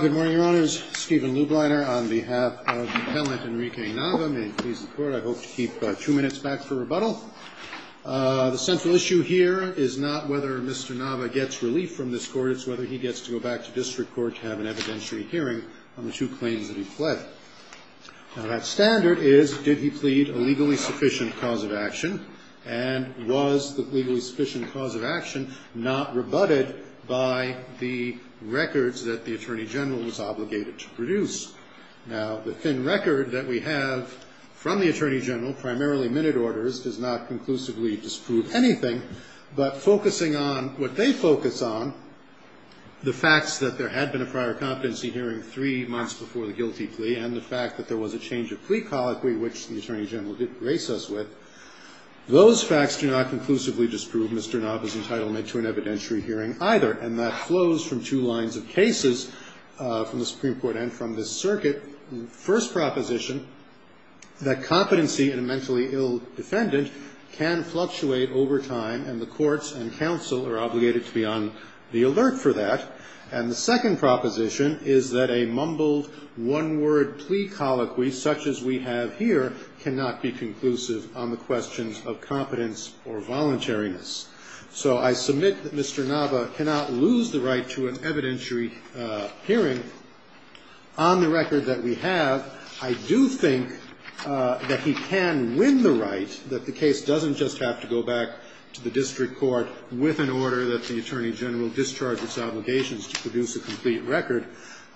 Good morning, Your Honors. Stephen Lubliner on behalf of Appellant Enrique Nava, may he please the Court. I hope to keep two minutes back for rebuttal. The central issue here is not whether Mr. Nava gets relief from this Court, it's whether he gets to go back to District Court to have an evidentiary hearing on the two claims that he pled. Now that standard is, did he plead a legally sufficient cause of action, and was the legally sufficient cause of action not rebutted by the records that the Attorney General was obligated to produce? Now the thin record that we have from the Attorney General, primarily minute orders, does not conclusively disprove anything, but focusing on what they focus on, the facts that there had been a prior competency hearing three months before the guilty plea, and the fact that there was a change of plea colloquy, which the Attorney General did grace us with, those facts do not conclusively disprove Mr. Nava's entitlement to an evidentiary hearing either, and that flows from two lines of cases from the Supreme Court and from this circuit. First proposition, that competency in a mentally ill defendant can fluctuate over time, and the courts and counsel are obligated to be on the alert for that. And the second proposition is that a mumbled one-word plea colloquy such as we have here cannot be conclusive on the questions of competence or voluntariness. So I submit that Mr. Nava cannot lose the right to an evidentiary hearing on the record that we have. I do think that he can win the right, that the case doesn't just have to go back to the district court with an order that the Attorney General discharge its obligations to produce a complete record.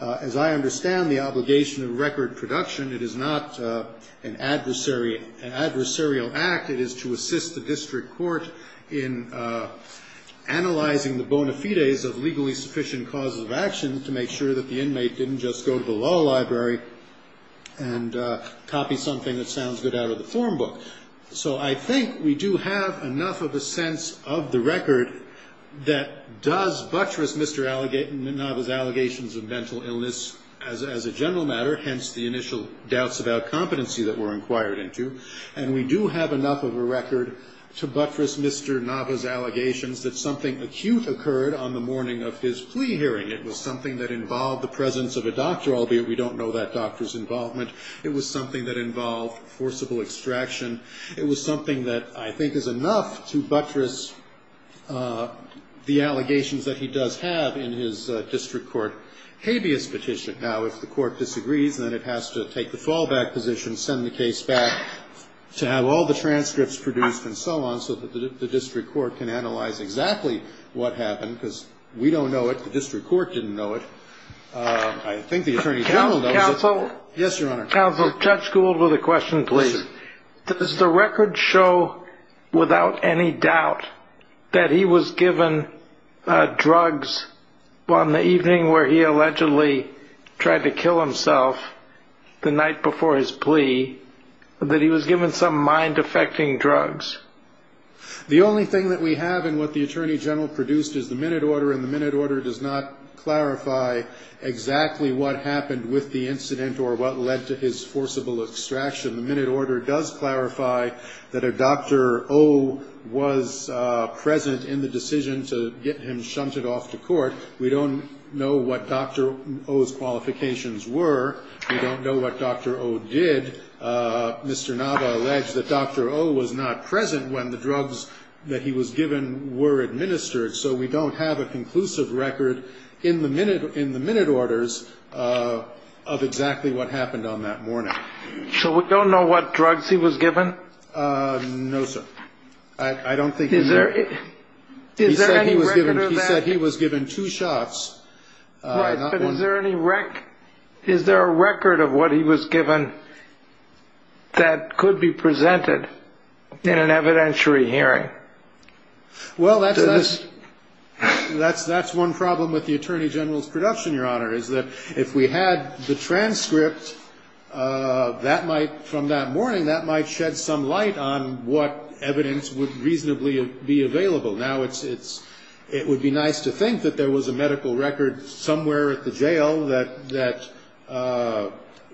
As I understand the obligation of record production, it is not an adversary, an adversarial act. It is to assist the district court in analyzing the bona fides of legally sufficient causes of action to make sure that the inmate didn't just go to the law library and copy something that sounds good out of the form book. So I think we do have enough of a sense of the record that does buttress Mr. Nava's allegations of mental illness as a general matter, hence the initial doubts about competency that we're inquired into. And we do have enough of a record to buttress Mr. Nava's allegations that something acute occurred on the morning of his plea hearing. It was something that involved the presence of a doctor, albeit we don't know that doctor's involvement. It was something that involved forcible extraction. It was something that I think is enough to buttress the allegations that he does have in his district court habeas petition. Now, if the court disagrees, then it has to take the fallback position, send the case back to have all the transcripts produced and so on, so that the district court can analyze exactly what happened. Because we don't know it. The district court didn't know it. I think the Attorney General knows it. Counsel? Yes, Your Honor. Counsel, Judge Gould with a question, please. Does the record show without any doubt that he was given drugs on the evening where he allegedly tried to kill himself the night before his plea, that he was given some mind-affecting drugs? The only thing that we have in what the Attorney General produced is the minute order, and the minute order does not clarify exactly what happened with the incident or what led to his forcible extraction. The minute order does clarify that a Dr. O was present in the decision to get him shunted off to court. We don't know what Dr. O's qualifications were. We don't know what Dr. O did. Mr. Nava alleged that Dr. O was not present when the drugs that he was given were administered, so we don't have a conclusive record in the minute orders of exactly what happened on that morning. So we don't know what drugs he was given? No, sir. I don't think he did. Is there any record of that? He said he was given two shots. Right, but is there a record of what he was given that could be presented in an evidentiary hearing? Well, that's one problem with the Attorney General's production, Your Honor, is that if we had the transcript from that morning, that might shed some light on what evidence would reasonably be available. Now, it would be nice to think that there was a medical record somewhere at the jail that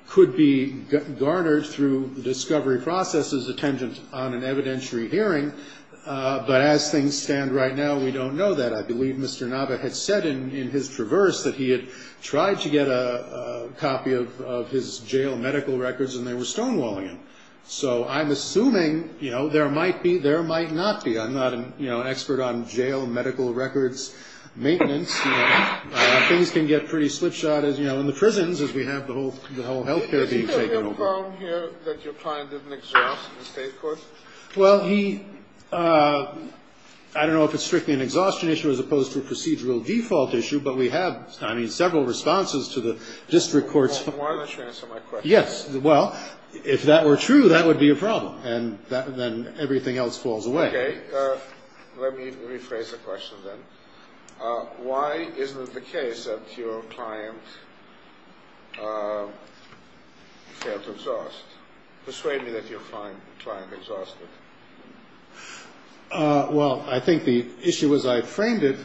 could be garnered through discovery processes attendant on an evidentiary hearing, but as things stand right now, we don't know that. I believe Mr. Nava had said in his traverse that he had tried to get a copy of his jail medical records, and they were stonewalling him. So I'm assuming, you know, there might be, there might not be. I'm not, you know, an expert on jail medical records maintenance. Things can get pretty slipshod as, you know, in the prisons as we have the whole health care being taken over. Did he have a problem here that your client didn't exhaust in the state court? Well, he, I don't know if it's strictly an exhaustion issue as opposed to a procedural default issue, but we have, I mean, several responses to the district courts. Why don't you answer my question? Yes, well, if that were true, that would be a problem, and then everything else falls away. Okay. Let me rephrase the question then. Why isn't it the case that your client failed to exhaust? Persuade me that you find the client exhausted. Well, I think the issue as I framed it,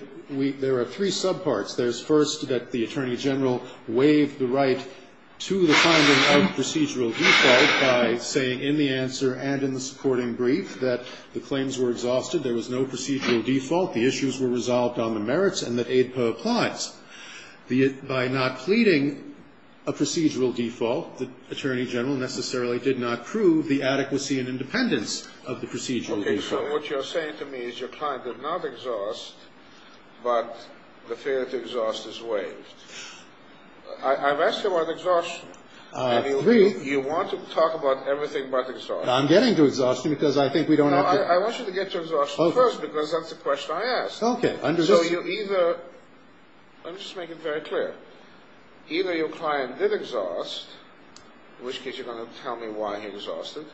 there are three subparts. There's first that the attorney general waived the right to the finding of procedural default by saying in the answer and in the supporting brief that the claims were exhausted, there was no procedural default, the issues were resolved on the merits, and that AIDPA applies. By not pleading a procedural default, the attorney general necessarily did not prove the adequacy and independence of the procedural default. Okay, so what you're saying to me is your client did not exhaust, but the failure to exhaust is waived. I've asked you about exhaustion. And you want to talk about everything but exhaustion. I'm getting to exhaustion because I think we don't have to. No, I want you to get to exhaustion first because that's the question I asked. Okay. So you either, let me just make it very clear, either your client did exhaust, in which case you're going to tell me why he exhausted,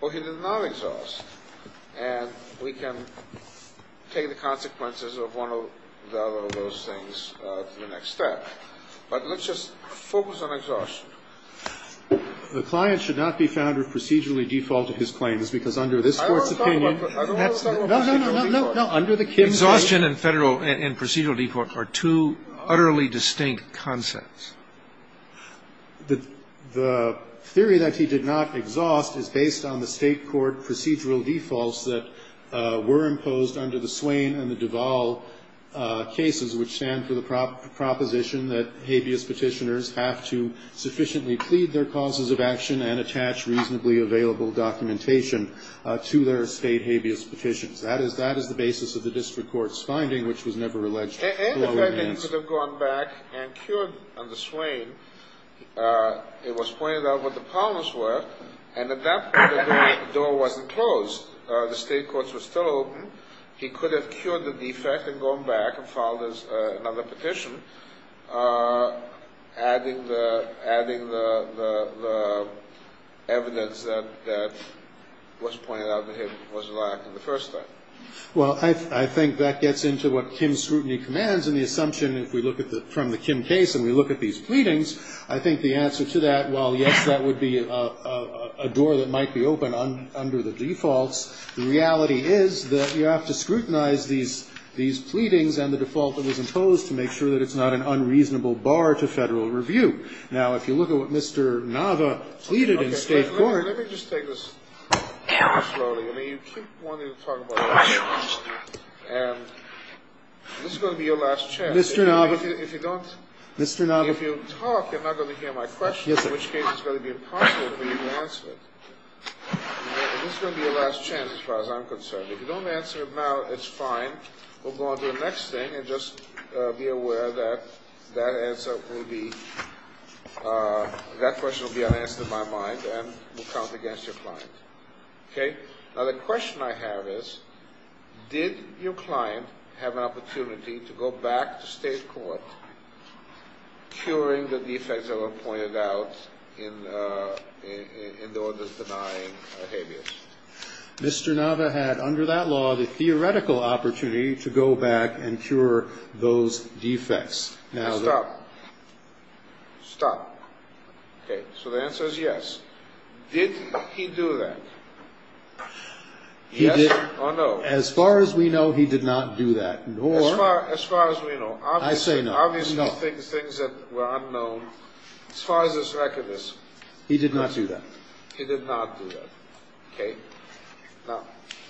or he did not exhaust, and we can take the consequences of one or the other of those things in the next step. But let's just focus on exhaustion. The client should not be found to have procedurally defaulted his claims because under this Court's opinion. I don't want to talk about procedural default. No, no, no, no. Under the Kim case. Exhaustion and procedural default are two utterly distinct concepts. The theory that he did not exhaust is based on the State court procedural defaults that were imposed under the Swain and the Duval cases, which stand for the proposition that habeas petitioners have to sufficiently plead their causes of action and attach reasonably available documentation to their State habeas petitions. That is the basis of the District Court's finding, which was never alleged. And the fact that he could have gone back and cured under Swain, it was pointed out what the problems were, and at that point the door wasn't closed. The State courts were still open. He could have cured the defect and gone back and filed another petition, adding the evidence that was pointed out to him was lacking the first time. Well, I think that gets into what Kim's scrutiny commands, and the assumption if we look from the Kim case and we look at these pleadings, I think the answer to that, while yes, that would be a door that might be open under the defaults, the reality is that you have to scrutinize these pleadings and the default that was imposed to make sure that it's not an unreasonable bar to Federal review. Now, if you look at what Mr. Nava pleaded in State court ---- Let me just take this very slowly. I mean, you keep wanting to talk about it, and this is going to be your last chance. Mr. Nava ---- If you don't ---- Mr. Nava ---- If you talk, you're not going to hear my question, in which case it's going to be impossible for you to answer it. This is going to be your last chance as far as I'm concerned. If you don't answer it now, it's fine. We'll go on to the next thing, and just be aware that that answer will be ---- that question will be unanswered in my mind and will count against your client. Now, the question I have is, did your client have an opportunity to go back to State court curing the defects that were pointed out in the orders denying habeas? Mr. Nava had, under that law, the theoretical opportunity to go back and cure those defects. Now, the ---- Stop. Stop. Okay. So the answer is yes. Did he do that? Yes or no? As far as we know, he did not do that, nor ---- As far as we know, obviously ---- No. Things that were unknown. As far as this record is ---- He did not do that. He did not do that. Okay. Now,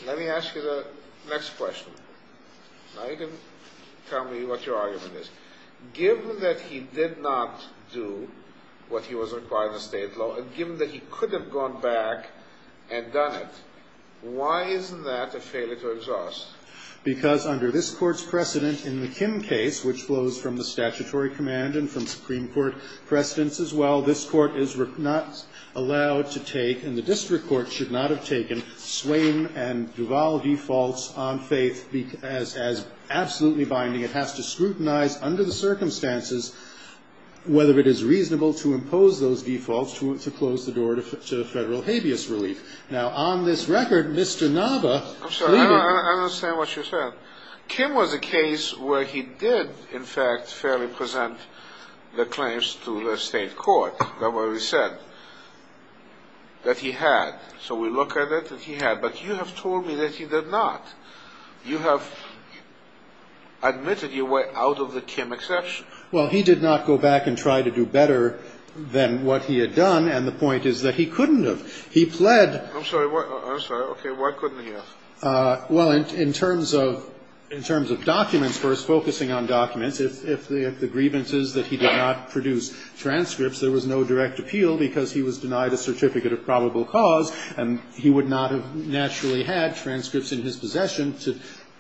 let me ask you the next question. Now you can tell me what your argument is. Given that he did not do what he was required in the State law, and given that he could have gone back and done it, why isn't that a failure to exhaust? Because under this Court's precedent in the Kim case, which flows from the statutory command and from Supreme Court precedents as well, this Court is not allowed to take and the district court should not have taken Swain and Duvall defaults on faith as absolutely binding. It has to scrutinize under the circumstances whether it is reasonable to impose those defaults to close the door to Federal habeas relief. Now, on this record, Mr. Nava ---- I understand what you said. Kim was a case where he did, in fact, fairly present the claims to the State court. That's what we said. That he had. So we look at it, that he had. But you have told me that he did not. You have admitted you were out of the Kim exception. Well, he did not go back and try to do better than what he had done. And the point is that he couldn't have. He pled ---- I'm sorry. I'm sorry. Okay. Why couldn't he have? Well, in terms of documents, first, focusing on documents, if the grievance is that he did not produce transcripts, there was no direct appeal because he was denied a certificate of probable cause and he would not have naturally had transcripts in his possession to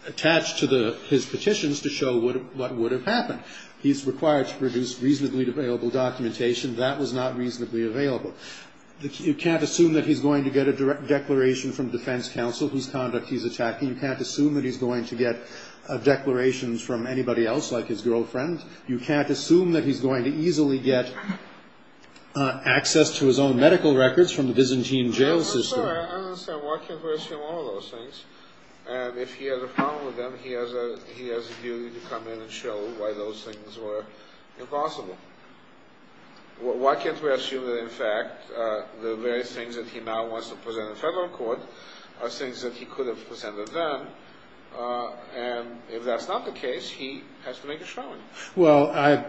attach to his petitions to show what would have happened. He's required to produce reasonably available documentation. That was not reasonably available. You can't assume that he's going to get a declaration from defense counsel whose conduct he's attacking. You can't assume that he's going to get declarations from anybody else, like his girlfriend. You can't assume that he's going to easily get access to his own medical records from the Byzantine jail system. I'm sorry. I don't understand. Why can't we assume all those things? And if he has a problem with them, he has a duty to come in and show why those things were impossible. Why can't we assume that, in fact, the various things that he now wants to present in federal court are things that he could have presented then? And if that's not the case, he has to make a showing. Well,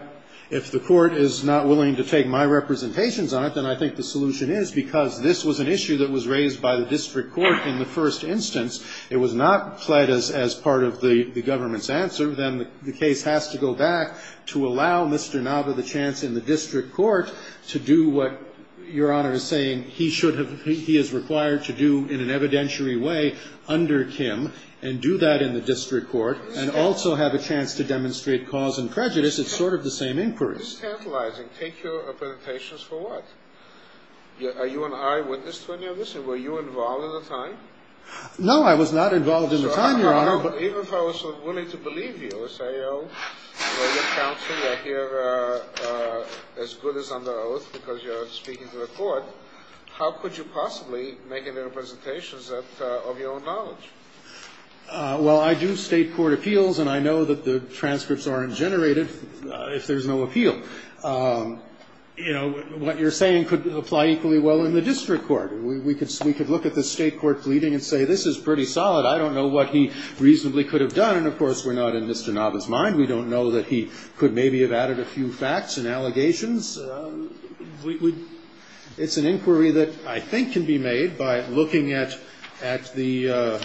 if the court is not willing to take my representations on it, then I think the solution is because this was an issue that was raised by the district court in the first instance. It was not played as part of the government's answer. And so, I think the case has to go back to allow Mr. Nava the chance in the district court to do what Your Honor is saying he is required to do in an evidentiary way under Kim, and do that in the district court, and also have a chance to demonstrate cause and prejudice. It's sort of the same inquiry. It's tantalizing. Take your representations for what? Are you an eyewitness to any of this, and were you involved in the time? No, I was not involved in the time, Your Honor. Even if I was sort of willing to believe you and say, oh, well, your counsel are here as good as under oath because you're speaking to the court, how could you possibly make any representations of your own knowledge? Well, I do state court appeals, and I know that the transcripts aren't generated if there's no appeal. You know, what you're saying could apply equally well in the district court. We could look at the state court pleading and say, this is pretty solid. I don't know what he reasonably could have done. And, of course, we're not in Mr. Nava's mind. We don't know that he could maybe have added a few facts and allegations. It's an inquiry that I think can be made by looking at the ----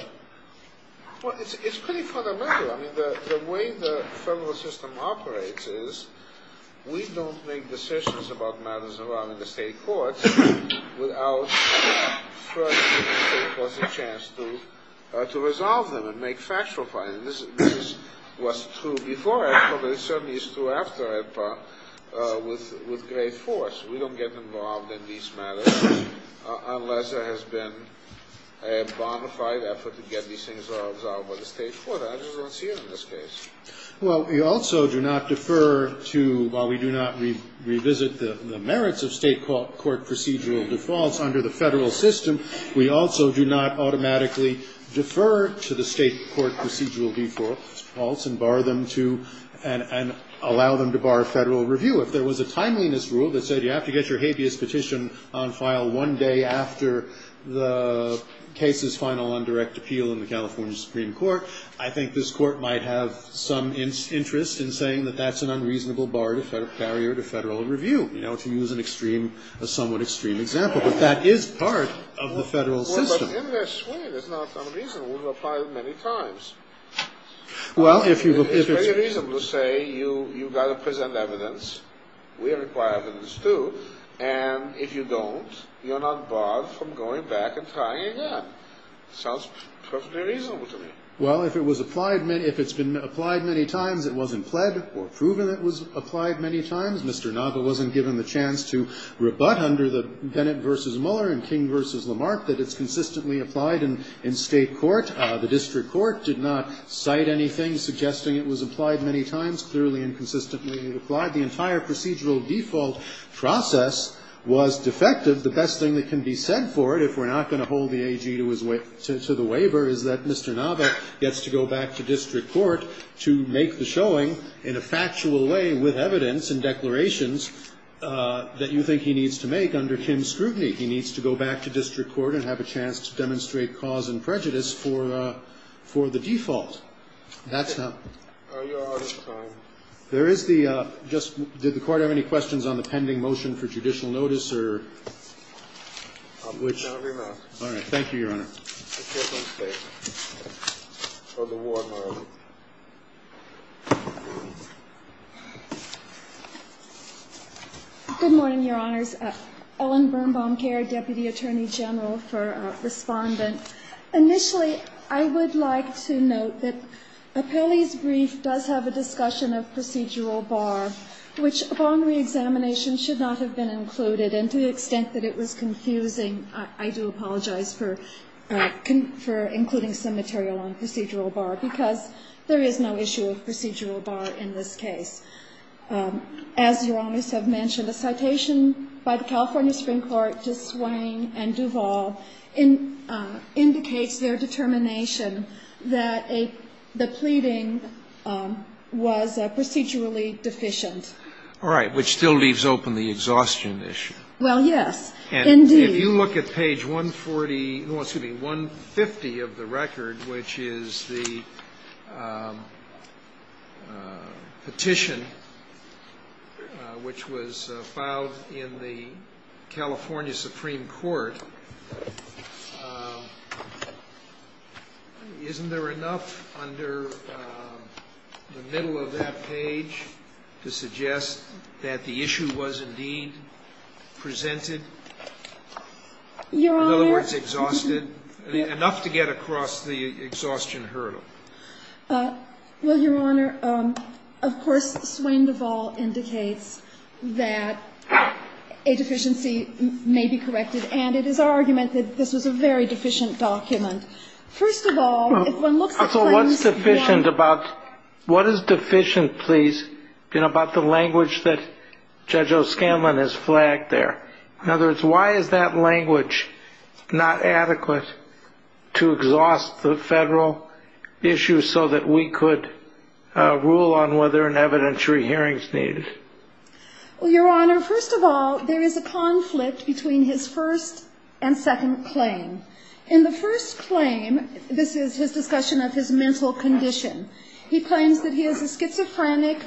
Well, it's pretty fundamental. I mean, the way the federal system operates is we don't make decisions about the state courts without first giving the state courts a chance to resolve them and make factual findings. This was true before Edpa, but it certainly is true after Edpa with great force. We don't get involved in these matters unless there has been a bona fide effort to get these things resolved by the state court. I just don't see it in this case. Well, we also do not defer to, while we do not revisit the merits of state court procedural defaults under the federal system, we also do not automatically defer to the state court procedural defaults and allow them to bar federal review. If there was a timeliness rule that said you have to get your habeas petition on file one day after the case's final and direct appeal in the California Supreme Court, I think this court might have some interest in saying that that's an unreasonable barrier to federal review, you know, to use a somewhat extreme example, but that is part of the federal system. Well, but in this way, it's not unreasonable to apply it many times. Well, if it's reasonable to say you've got to present evidence, we require evidence too, and if you don't, you're not barred from going back and trying again. Sounds perfectly reasonable to me. Well, if it was applied, if it's been applied many times, it wasn't pled or proven it was applied many times. Mr. Nava wasn't given the chance to rebut under the Bennett v. Mueller and King v. Lamarck that it's consistently applied in state court. The district court did not cite anything suggesting it was applied many times. Clearly, inconsistently applied. The entire procedural default process was defective. The best thing that can be said for it, if we're not going to hold the AG to his waiver, is that Mr. Nava gets to go back to district court to make the showing in a factual way with evidence and declarations that you think he needs to make under Kim's scrutiny. He needs to go back to district court and have a chance to demonstrate cause and prejudice for the default. That's how. There is the just did the Court have any questions on the pending motion for judicial notice or which. All right. Thank you, Your Honor. Good morning, Your Honors. Ellen Birnbaum-Kerr, Deputy Attorney General for Respondent. Initially, I would like to note that Appelli's brief does have a discussion of procedural bar, which upon reexamination should not have been included. And to the extent that it was confusing, I do apologize for including some material on procedural bar, because there is no issue of procedural bar in this case. As Your Honors have mentioned, a citation by the California Supreme Court to Swain and Duvall indicates their determination that the pleading was procedurally deficient. All right. Which still leaves open the exhaustion issue. Well, yes. Indeed. If you look at page 140 no, excuse me, 150 of the record, which is the petition which was filed in the California Supreme Court, isn't there enough under the middle of that page to suggest that the issue was indeed presented? Your Honor. In other words, exhausted? Enough to get across the exhaustion hurdle. Well, Your Honor, of course, Swain and Duvall indicates that a deficiency may be corrected. And it is our argument that this was a very deficient document. First of all, if one looks at claims that is deficient, please, about the language that Judge O'Scanlan has flagged there. In other words, why is that language not adequate to exhaust the federal issue so that we could rule on whether an evidentiary hearing is needed? Well, Your Honor, first of all, there is a conflict between his first and second claim. In the first claim, this is his discussion of his mental condition, he claims that he is a schizophrenic,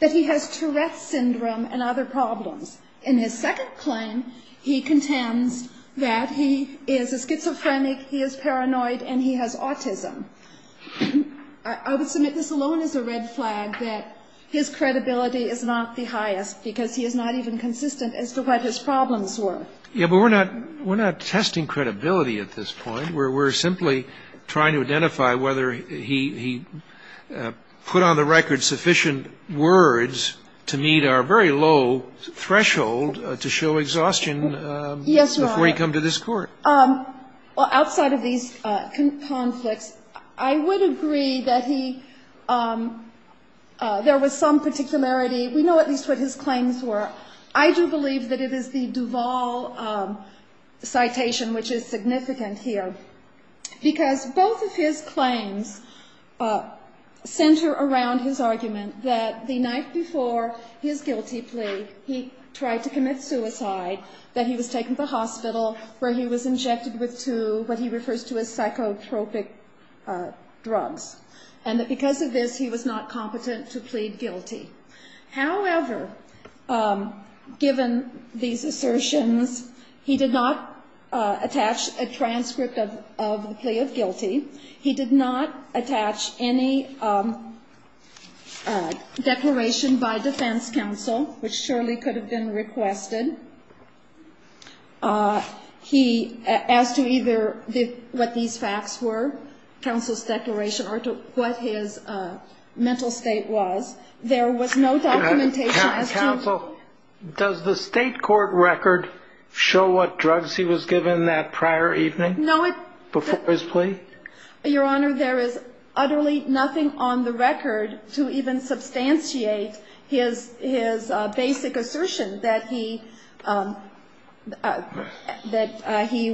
that he has Tourette's syndrome and other problems. In his second claim, he contends that he is a schizophrenic, he is paranoid, and he has autism. I would submit this alone is a red flag that his credibility is not the highest because he is not even consistent as to what his problems were. Yeah, but we're not testing credibility at this point. We're simply trying to identify whether he put on the record sufficient words to meet our very low threshold to show exhaustion before he come to this Court. Yes, Your Honor. Well, outside of these conflicts, I would agree that he, there was some particularity We know at least what his claims were. I do believe that it is the Duval citation which is significant here because both of his claims center around his argument that the night before his guilty plea, he tried to commit suicide, that he was taken to the hospital where he was injected with two, what he refers to as psychotropic drugs, and that because of this he was not competent to plead guilty. However, given these assertions, he did not attach a transcript of the plea of guilty. He did not attach any declaration by defense counsel, which surely could have been requested. He asked you either what these facts were, counsel's declaration, or what his mental state was. There was no documentation as to- Counsel, does the state court record show what drugs he was given that prior evening? No, it- Before his plea? Your Honor, there is utterly nothing on the record to even substantiate his basic assertion that he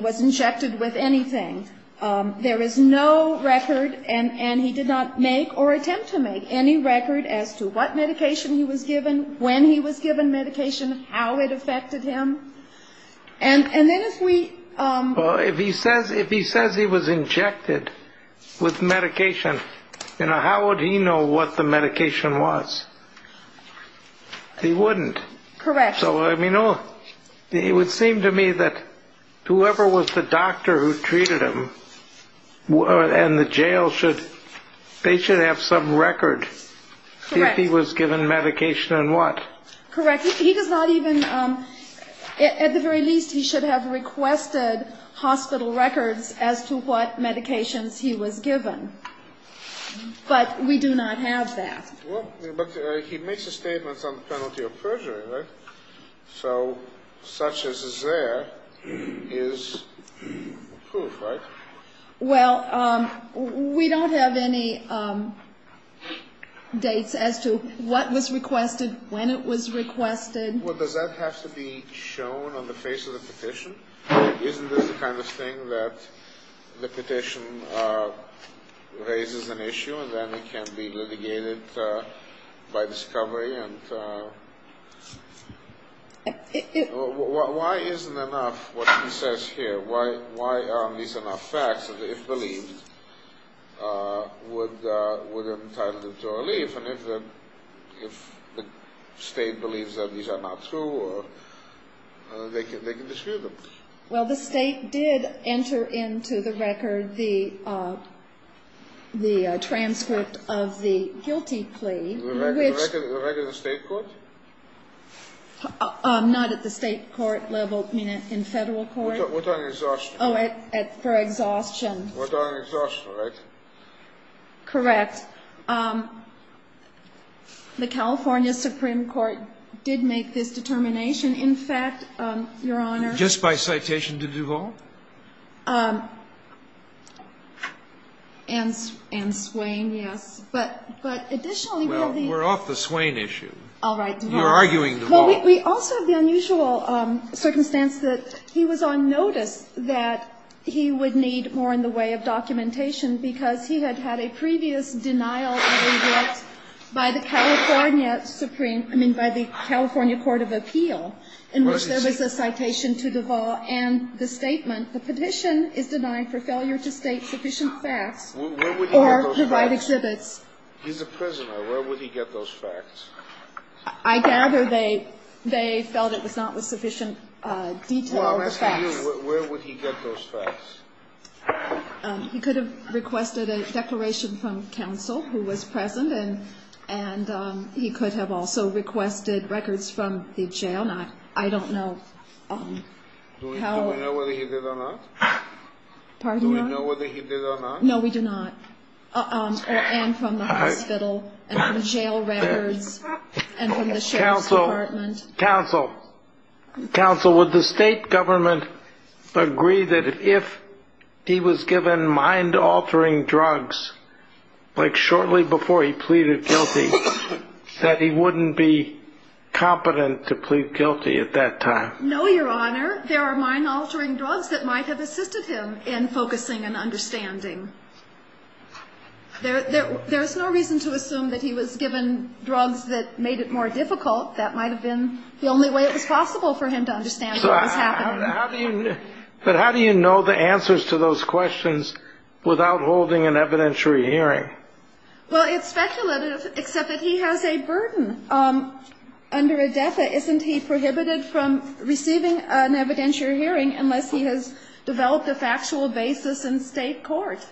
was injected with anything. There is no record, and he did not make or attempt to make any record as to what medication he was given, when he was given medication, how it affected him. And then if we- Well, if he says he was injected with medication, how would he know what the medication was? He wouldn't. Correct. So, I mean, it would seem to me that whoever was the doctor who treated him and the jail should, they should have some record if he was given medication and what. Correct. He does not even, at the very least, he should have requested hospital records as to what medications he was given. But we do not have that. Well, but he makes a statement on the penalty of perjury, right? So such as is there is proof, right? Well, we don't have any dates as to what was requested, when it was requested. Well, does that have to be shown on the face of the petition? Isn't this the kind of thing that the petition raises an issue and then it can be litigated by discovery? And why isn't enough what he says here? Why aren't these enough facts that if believed would entitle them to a relief? And if the state believes that these are not true, they can disprove them. Well, the state did enter into the record the transcript of the guilty plea. The record of the state court? Not at the state court level, I mean in federal court. For exhaustion. For exhaustion, right? Correct. The California Supreme Court did make this determination. In fact, Your Honor. Just by citation to Duvall? And Swain, yes. But additionally, we have the. Well, we're off the Swain issue. All right, Duvall. You're arguing Duvall. Well, we also have the unusual circumstance that he was on notice that he would need more in the way of documentation because he had had a previous denial of relief by the California Supreme, I mean by the California Court of Appeal in which there was a citation to Duvall and the statement, the petition is denying for failure to state sufficient facts or provide exhibits. He's a prisoner. Where would he get those facts? I gather they felt it was not with sufficient detail or facts. Where would he get those facts? He could have requested a declaration from counsel who was present, and he could have also requested records from the jail. I don't know how. Do we know whether he did or not? Pardon me? Do we know whether he did or not? No, we do not. And from the hospital and from jail records and from the sheriff's department. Counsel, counsel, would the state government agree that if he was given mind-altering drugs, like shortly before he pleaded guilty, that he wouldn't be competent to plead guilty at that time? No, Your Honor. There are mind-altering drugs that might have assisted him in focusing and understanding. There's no reason to assume that he was given drugs that made it more difficult. That might have been the only way it was possible for him to understand what was happening. But how do you know the answers to those questions without holding an evidentiary hearing? Well, it's speculative, except that he has a burden. Under ADETA, isn't he prohibited from receiving an evidentiary hearing unless he has developed a factual basis in state court?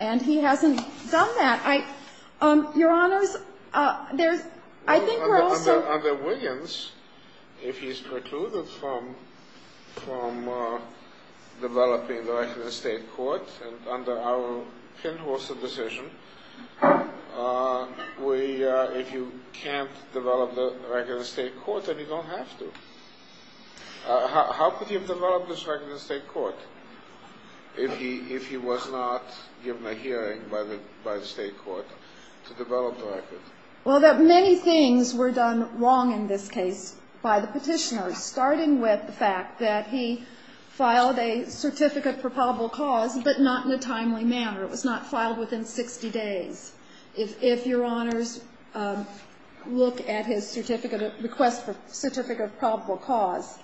And he hasn't done that. Your Honors, there's – I think we're also – Under Wiggins, if he's precluded from developing the record of state court, and under our pin-holstered decision, if you can't develop the record of state court, then you don't have to. How could he have developed this record of state court if he was not given a hearing by the state court to develop the record? Well, many things were done wrong in this case by the petitioner, starting with the fact that he filed a certificate for probable cause, but not in a timely manner. It was not filed within 60 days. If Your Honors look at his certificate of – request for certificate of probable cause,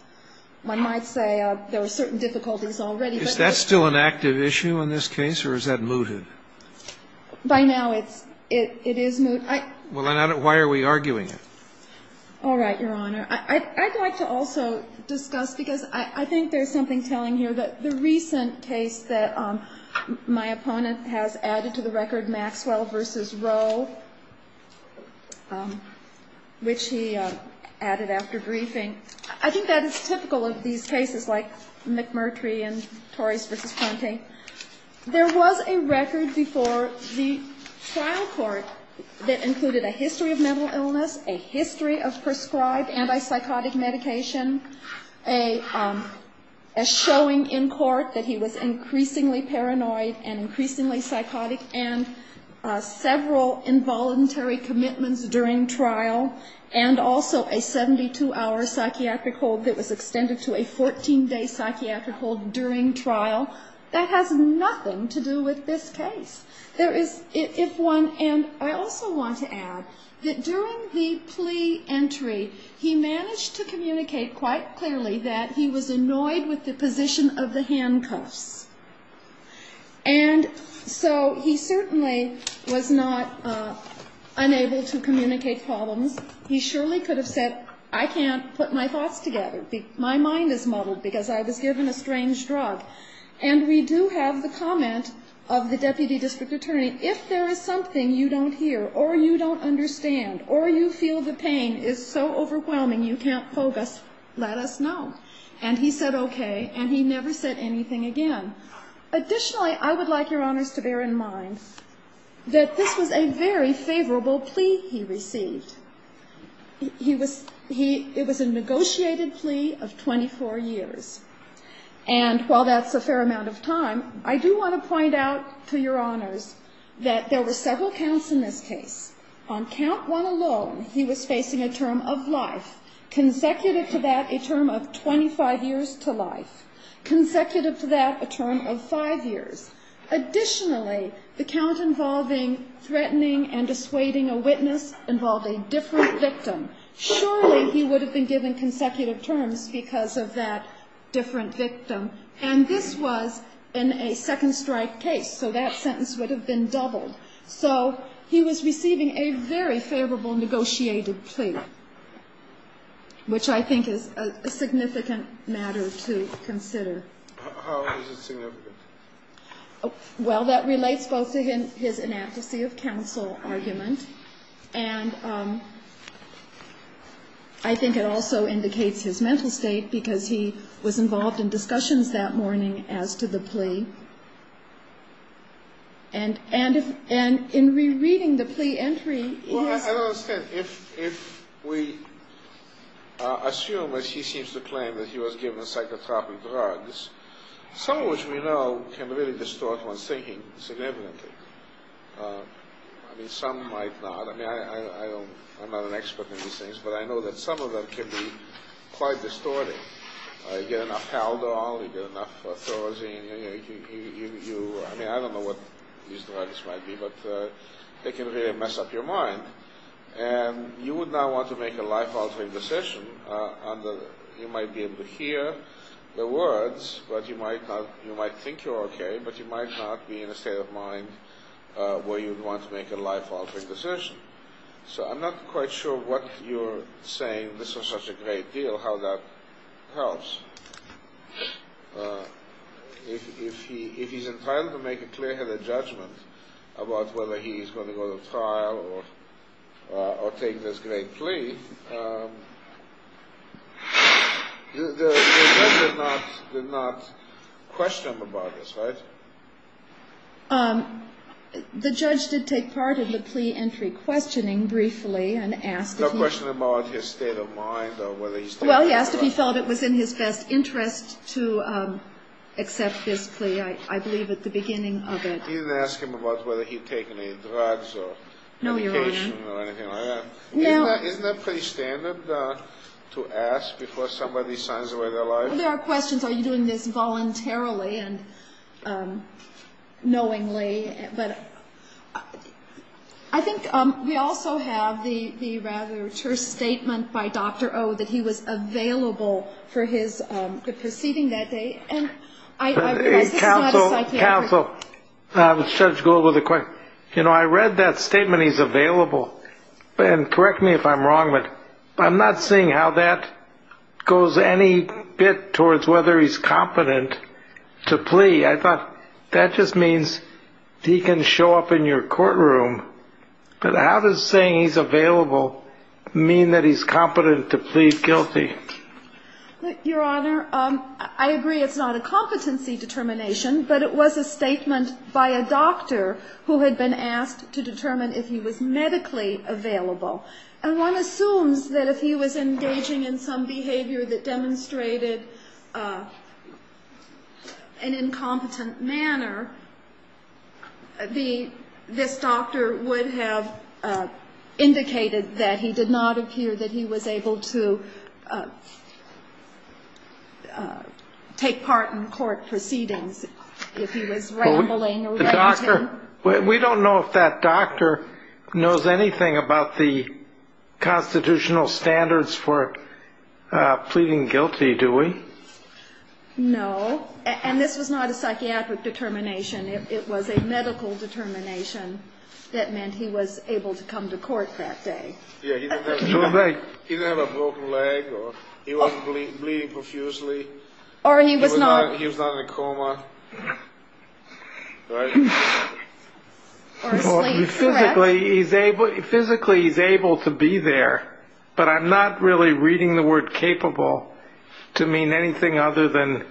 one might say there were certain difficulties already. Is that still an active issue in this case, or is that mooted? By now it's – it is mooted. Well, then why are we arguing it? All right, Your Honor. I'd like to also discuss, because I think there's something telling here, that the recent case that my opponent has added to the record, Maxwell v. Rowe, which he added after briefing. I think that is typical of these cases, like McMurtry and Torres v. Pointing. There was a record before the trial court that included a history of mental illness, a history of prescribed antipsychotic medication, a showing in court that he was increasingly paranoid and increasingly psychotic, and several involuntary commitments during trial, and also a 72-hour psychiatric hold that was extended to a 14-day psychiatric hold during trial. That has nothing to do with this case. There is – if one – and I also want to add that during the plea entry, he managed to communicate quite clearly that he was annoyed with the position of the handcuffs. And so he certainly was not unable to communicate problems. He surely could have said, I can't put my thoughts together. My mind is muddled because I was given a strange drug. And we do have the comment of the deputy district attorney, if there is something you don't hear or you don't understand or you feel the pain is so overwhelming you can't pogue us, let us know. And he said okay, and he never said anything again. Additionally, I would like Your Honors to bear in mind that this was a very favorable plea he received. He was – he – it was a negotiated plea of 24 years. And while that's a fair amount of time, I do want to point out to Your Honors that there were several counts in this case. On count one alone, he was facing a term of life, consecutive to that a term of 25 years to life, consecutive to that a term of five years. Additionally, the count involving threatening and dissuading a witness involved a different victim. Surely he would have been given consecutive terms because of that different victim. And this was in a second strike case, so that sentence would have been doubled. So he was receiving a very favorable negotiated plea, which I think is a significant matter to consider. How is it significant? Well, that relates both to his inadequacy of counsel argument and I think it also indicates his mental state because he was involved in discussions that morning as to the plea. And in rereading the plea entry, he has – Well, I don't understand. If we assume, as he seems to claim, that he was given psychotropic drugs, some of which we know can really distort one's thinking significantly. I mean, some might not. I mean, I'm not an expert in these things, but I know that some of them can be quite distorting. You get enough Haldol, you get enough Thorazine, you – I mean, I don't know what these drugs might be, but they can really mess up your mind. And you would not want to make a life-altering decision. You might be able to hear the words, but you might not – where you would want to make a life-altering decision. So I'm not quite sure what you're saying, this was such a great deal, how that helps. If he's entitled to make a clear-headed judgment about whether he's going to go to trial or take this great plea, the judge did not question him about this, right? The judge did take part in the plea entry questioning briefly and asked if he – No question about his state of mind or whether he's taken any drugs. Well, he asked if he felt it was in his best interest to accept this plea, I believe, at the beginning of it. He didn't ask him about whether he'd taken any drugs or medication or anything like that. No, Your Honor. Isn't that pretty standard to ask before somebody signs away their life? There are questions, are you doing this voluntarily and knowingly? But I think we also have the rather terse statement by Dr. O that he was available for the proceeding that day. And I realize this is not a psychiatric – Counsel, counsel, Judge Gould with a question. You know, I read that statement, he's available. And correct me if I'm wrong, but I'm not seeing how that goes any bit towards whether he's competent to plea. I thought that just means he can show up in your courtroom. But how does saying he's available mean that he's competent to plead guilty? Your Honor, I agree it's not a competency determination, but it was a statement by a doctor who had been asked to determine if he was medically available. And one assumes that if he was engaging in some behavior that demonstrated an incompetent manner, this doctor would have indicated that he did not appear that he was able to take part in court proceedings if he was rambling. The doctor – we don't know if that doctor knows anything about the constitutional standards for pleading guilty, do we? No, and this was not a psychiatric determination. It was a medical determination that meant he was able to come to court that day. Yeah, he didn't have a broken leg or he wasn't bleeding profusely. Or he was not – He was not in a coma, right? Or asleep, correct. Physically, he's able to be there, but I'm not really reading the word capable to mean anything other than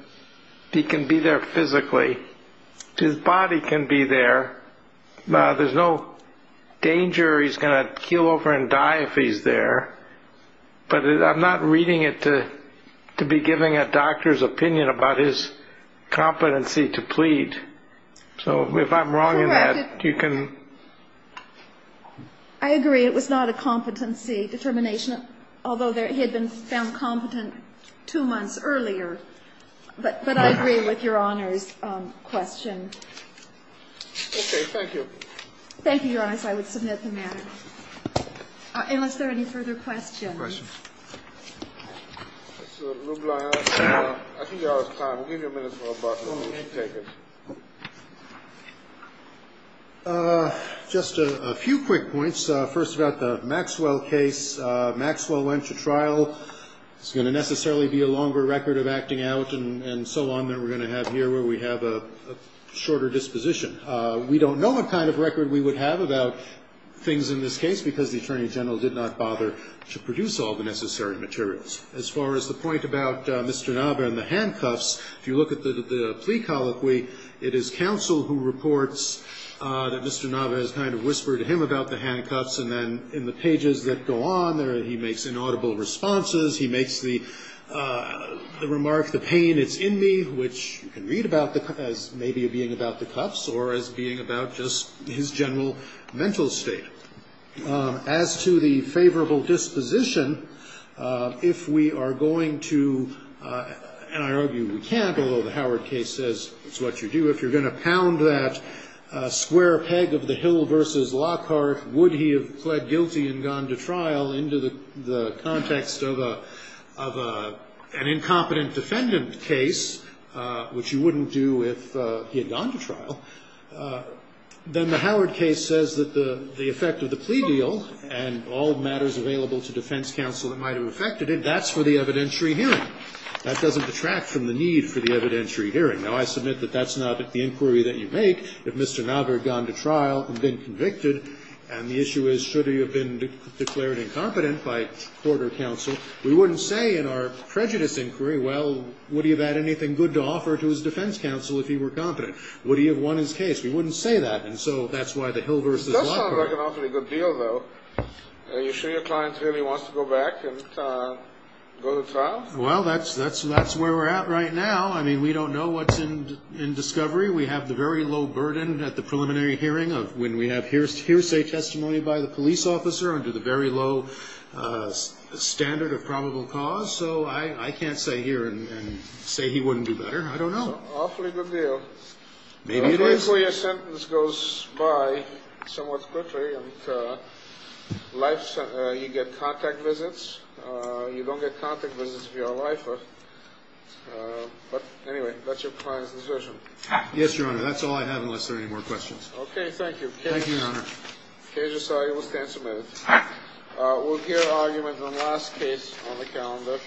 he can be there physically. His body can be there. There's no danger he's going to keel over and die if he's there. But I'm not reading it to be giving a doctor's opinion about his competency to plead. So if I'm wrong in that, you can – Correct. I agree it was not a competency determination, although he had been found competent two months earlier. But I agree with Your Honor's question. Okay, thank you. Thank you, Your Honor, so I would submit the matter. Unless there are any further questions. Questions. Mr. LeBlanc, I think you're out of time. We'll give you a minute or so to take it. Just a few quick points. First about the Maxwell case. Maxwell went to trial. It's going to necessarily be a longer record of acting out and so on that we're going to have here where we have a shorter disposition. We don't know what kind of record we would have about things in this case because the Attorney General did not bother to produce all the necessary materials. As far as the point about Mr. Nava and the handcuffs, if you look at the plea colloquy, it is counsel who reports that Mr. Nava has kind of whispered to him about the handcuffs. And then in the pages that go on, he makes inaudible responses. He makes the remark, the pain is in me, which you can read about as maybe being about the cuffs or as being about just his general mental state. As to the favorable disposition, if we are going to, and I argue we can't, although the Howard case says it's what you do, if you're going to pound that square peg of the hill versus Lockhart, would he have pled guilty and gone to trial, into the context of an incompetent defendant case, which you wouldn't do if he had gone to trial. Then the Howard case says that the effect of the plea deal and all matters available to defense counsel that might have affected it, that's for the evidentiary hearing. That doesn't detract from the need for the evidentiary hearing. Now, I submit that that's not the inquiry that you make if Mr. Nava had gone to trial and been convicted, and the issue is should he have been declared incompetent by court or counsel. We wouldn't say in our prejudice inquiry, well, would he have had anything good to offer to his defense counsel if he were competent? Would he have won his case? We wouldn't say that, and so that's why the hill versus Lockhart. That sounds like an awfully good deal, though. Are you sure your client really wants to go back and go to trial? Well, that's where we're at right now. I mean, we don't know what's in discovery. We have the very low burden at the preliminary hearing of when we have hearsay testimony by the police officer under the very low standard of probable cause, so I can't say here and say he wouldn't do better. I don't know. Awfully good deal. Maybe it is. Hopefully your sentence goes by somewhat quickly and you get contact visits. You don't get contact visits if you're a lifer, but anyway, that's your client's decision. Yes, Your Honor. That's all I have unless there are any more questions. Okay. Thank you. Thank you, Your Honor. The case is signed. It will stand submitted. We'll hear arguments on the last case on the calendar.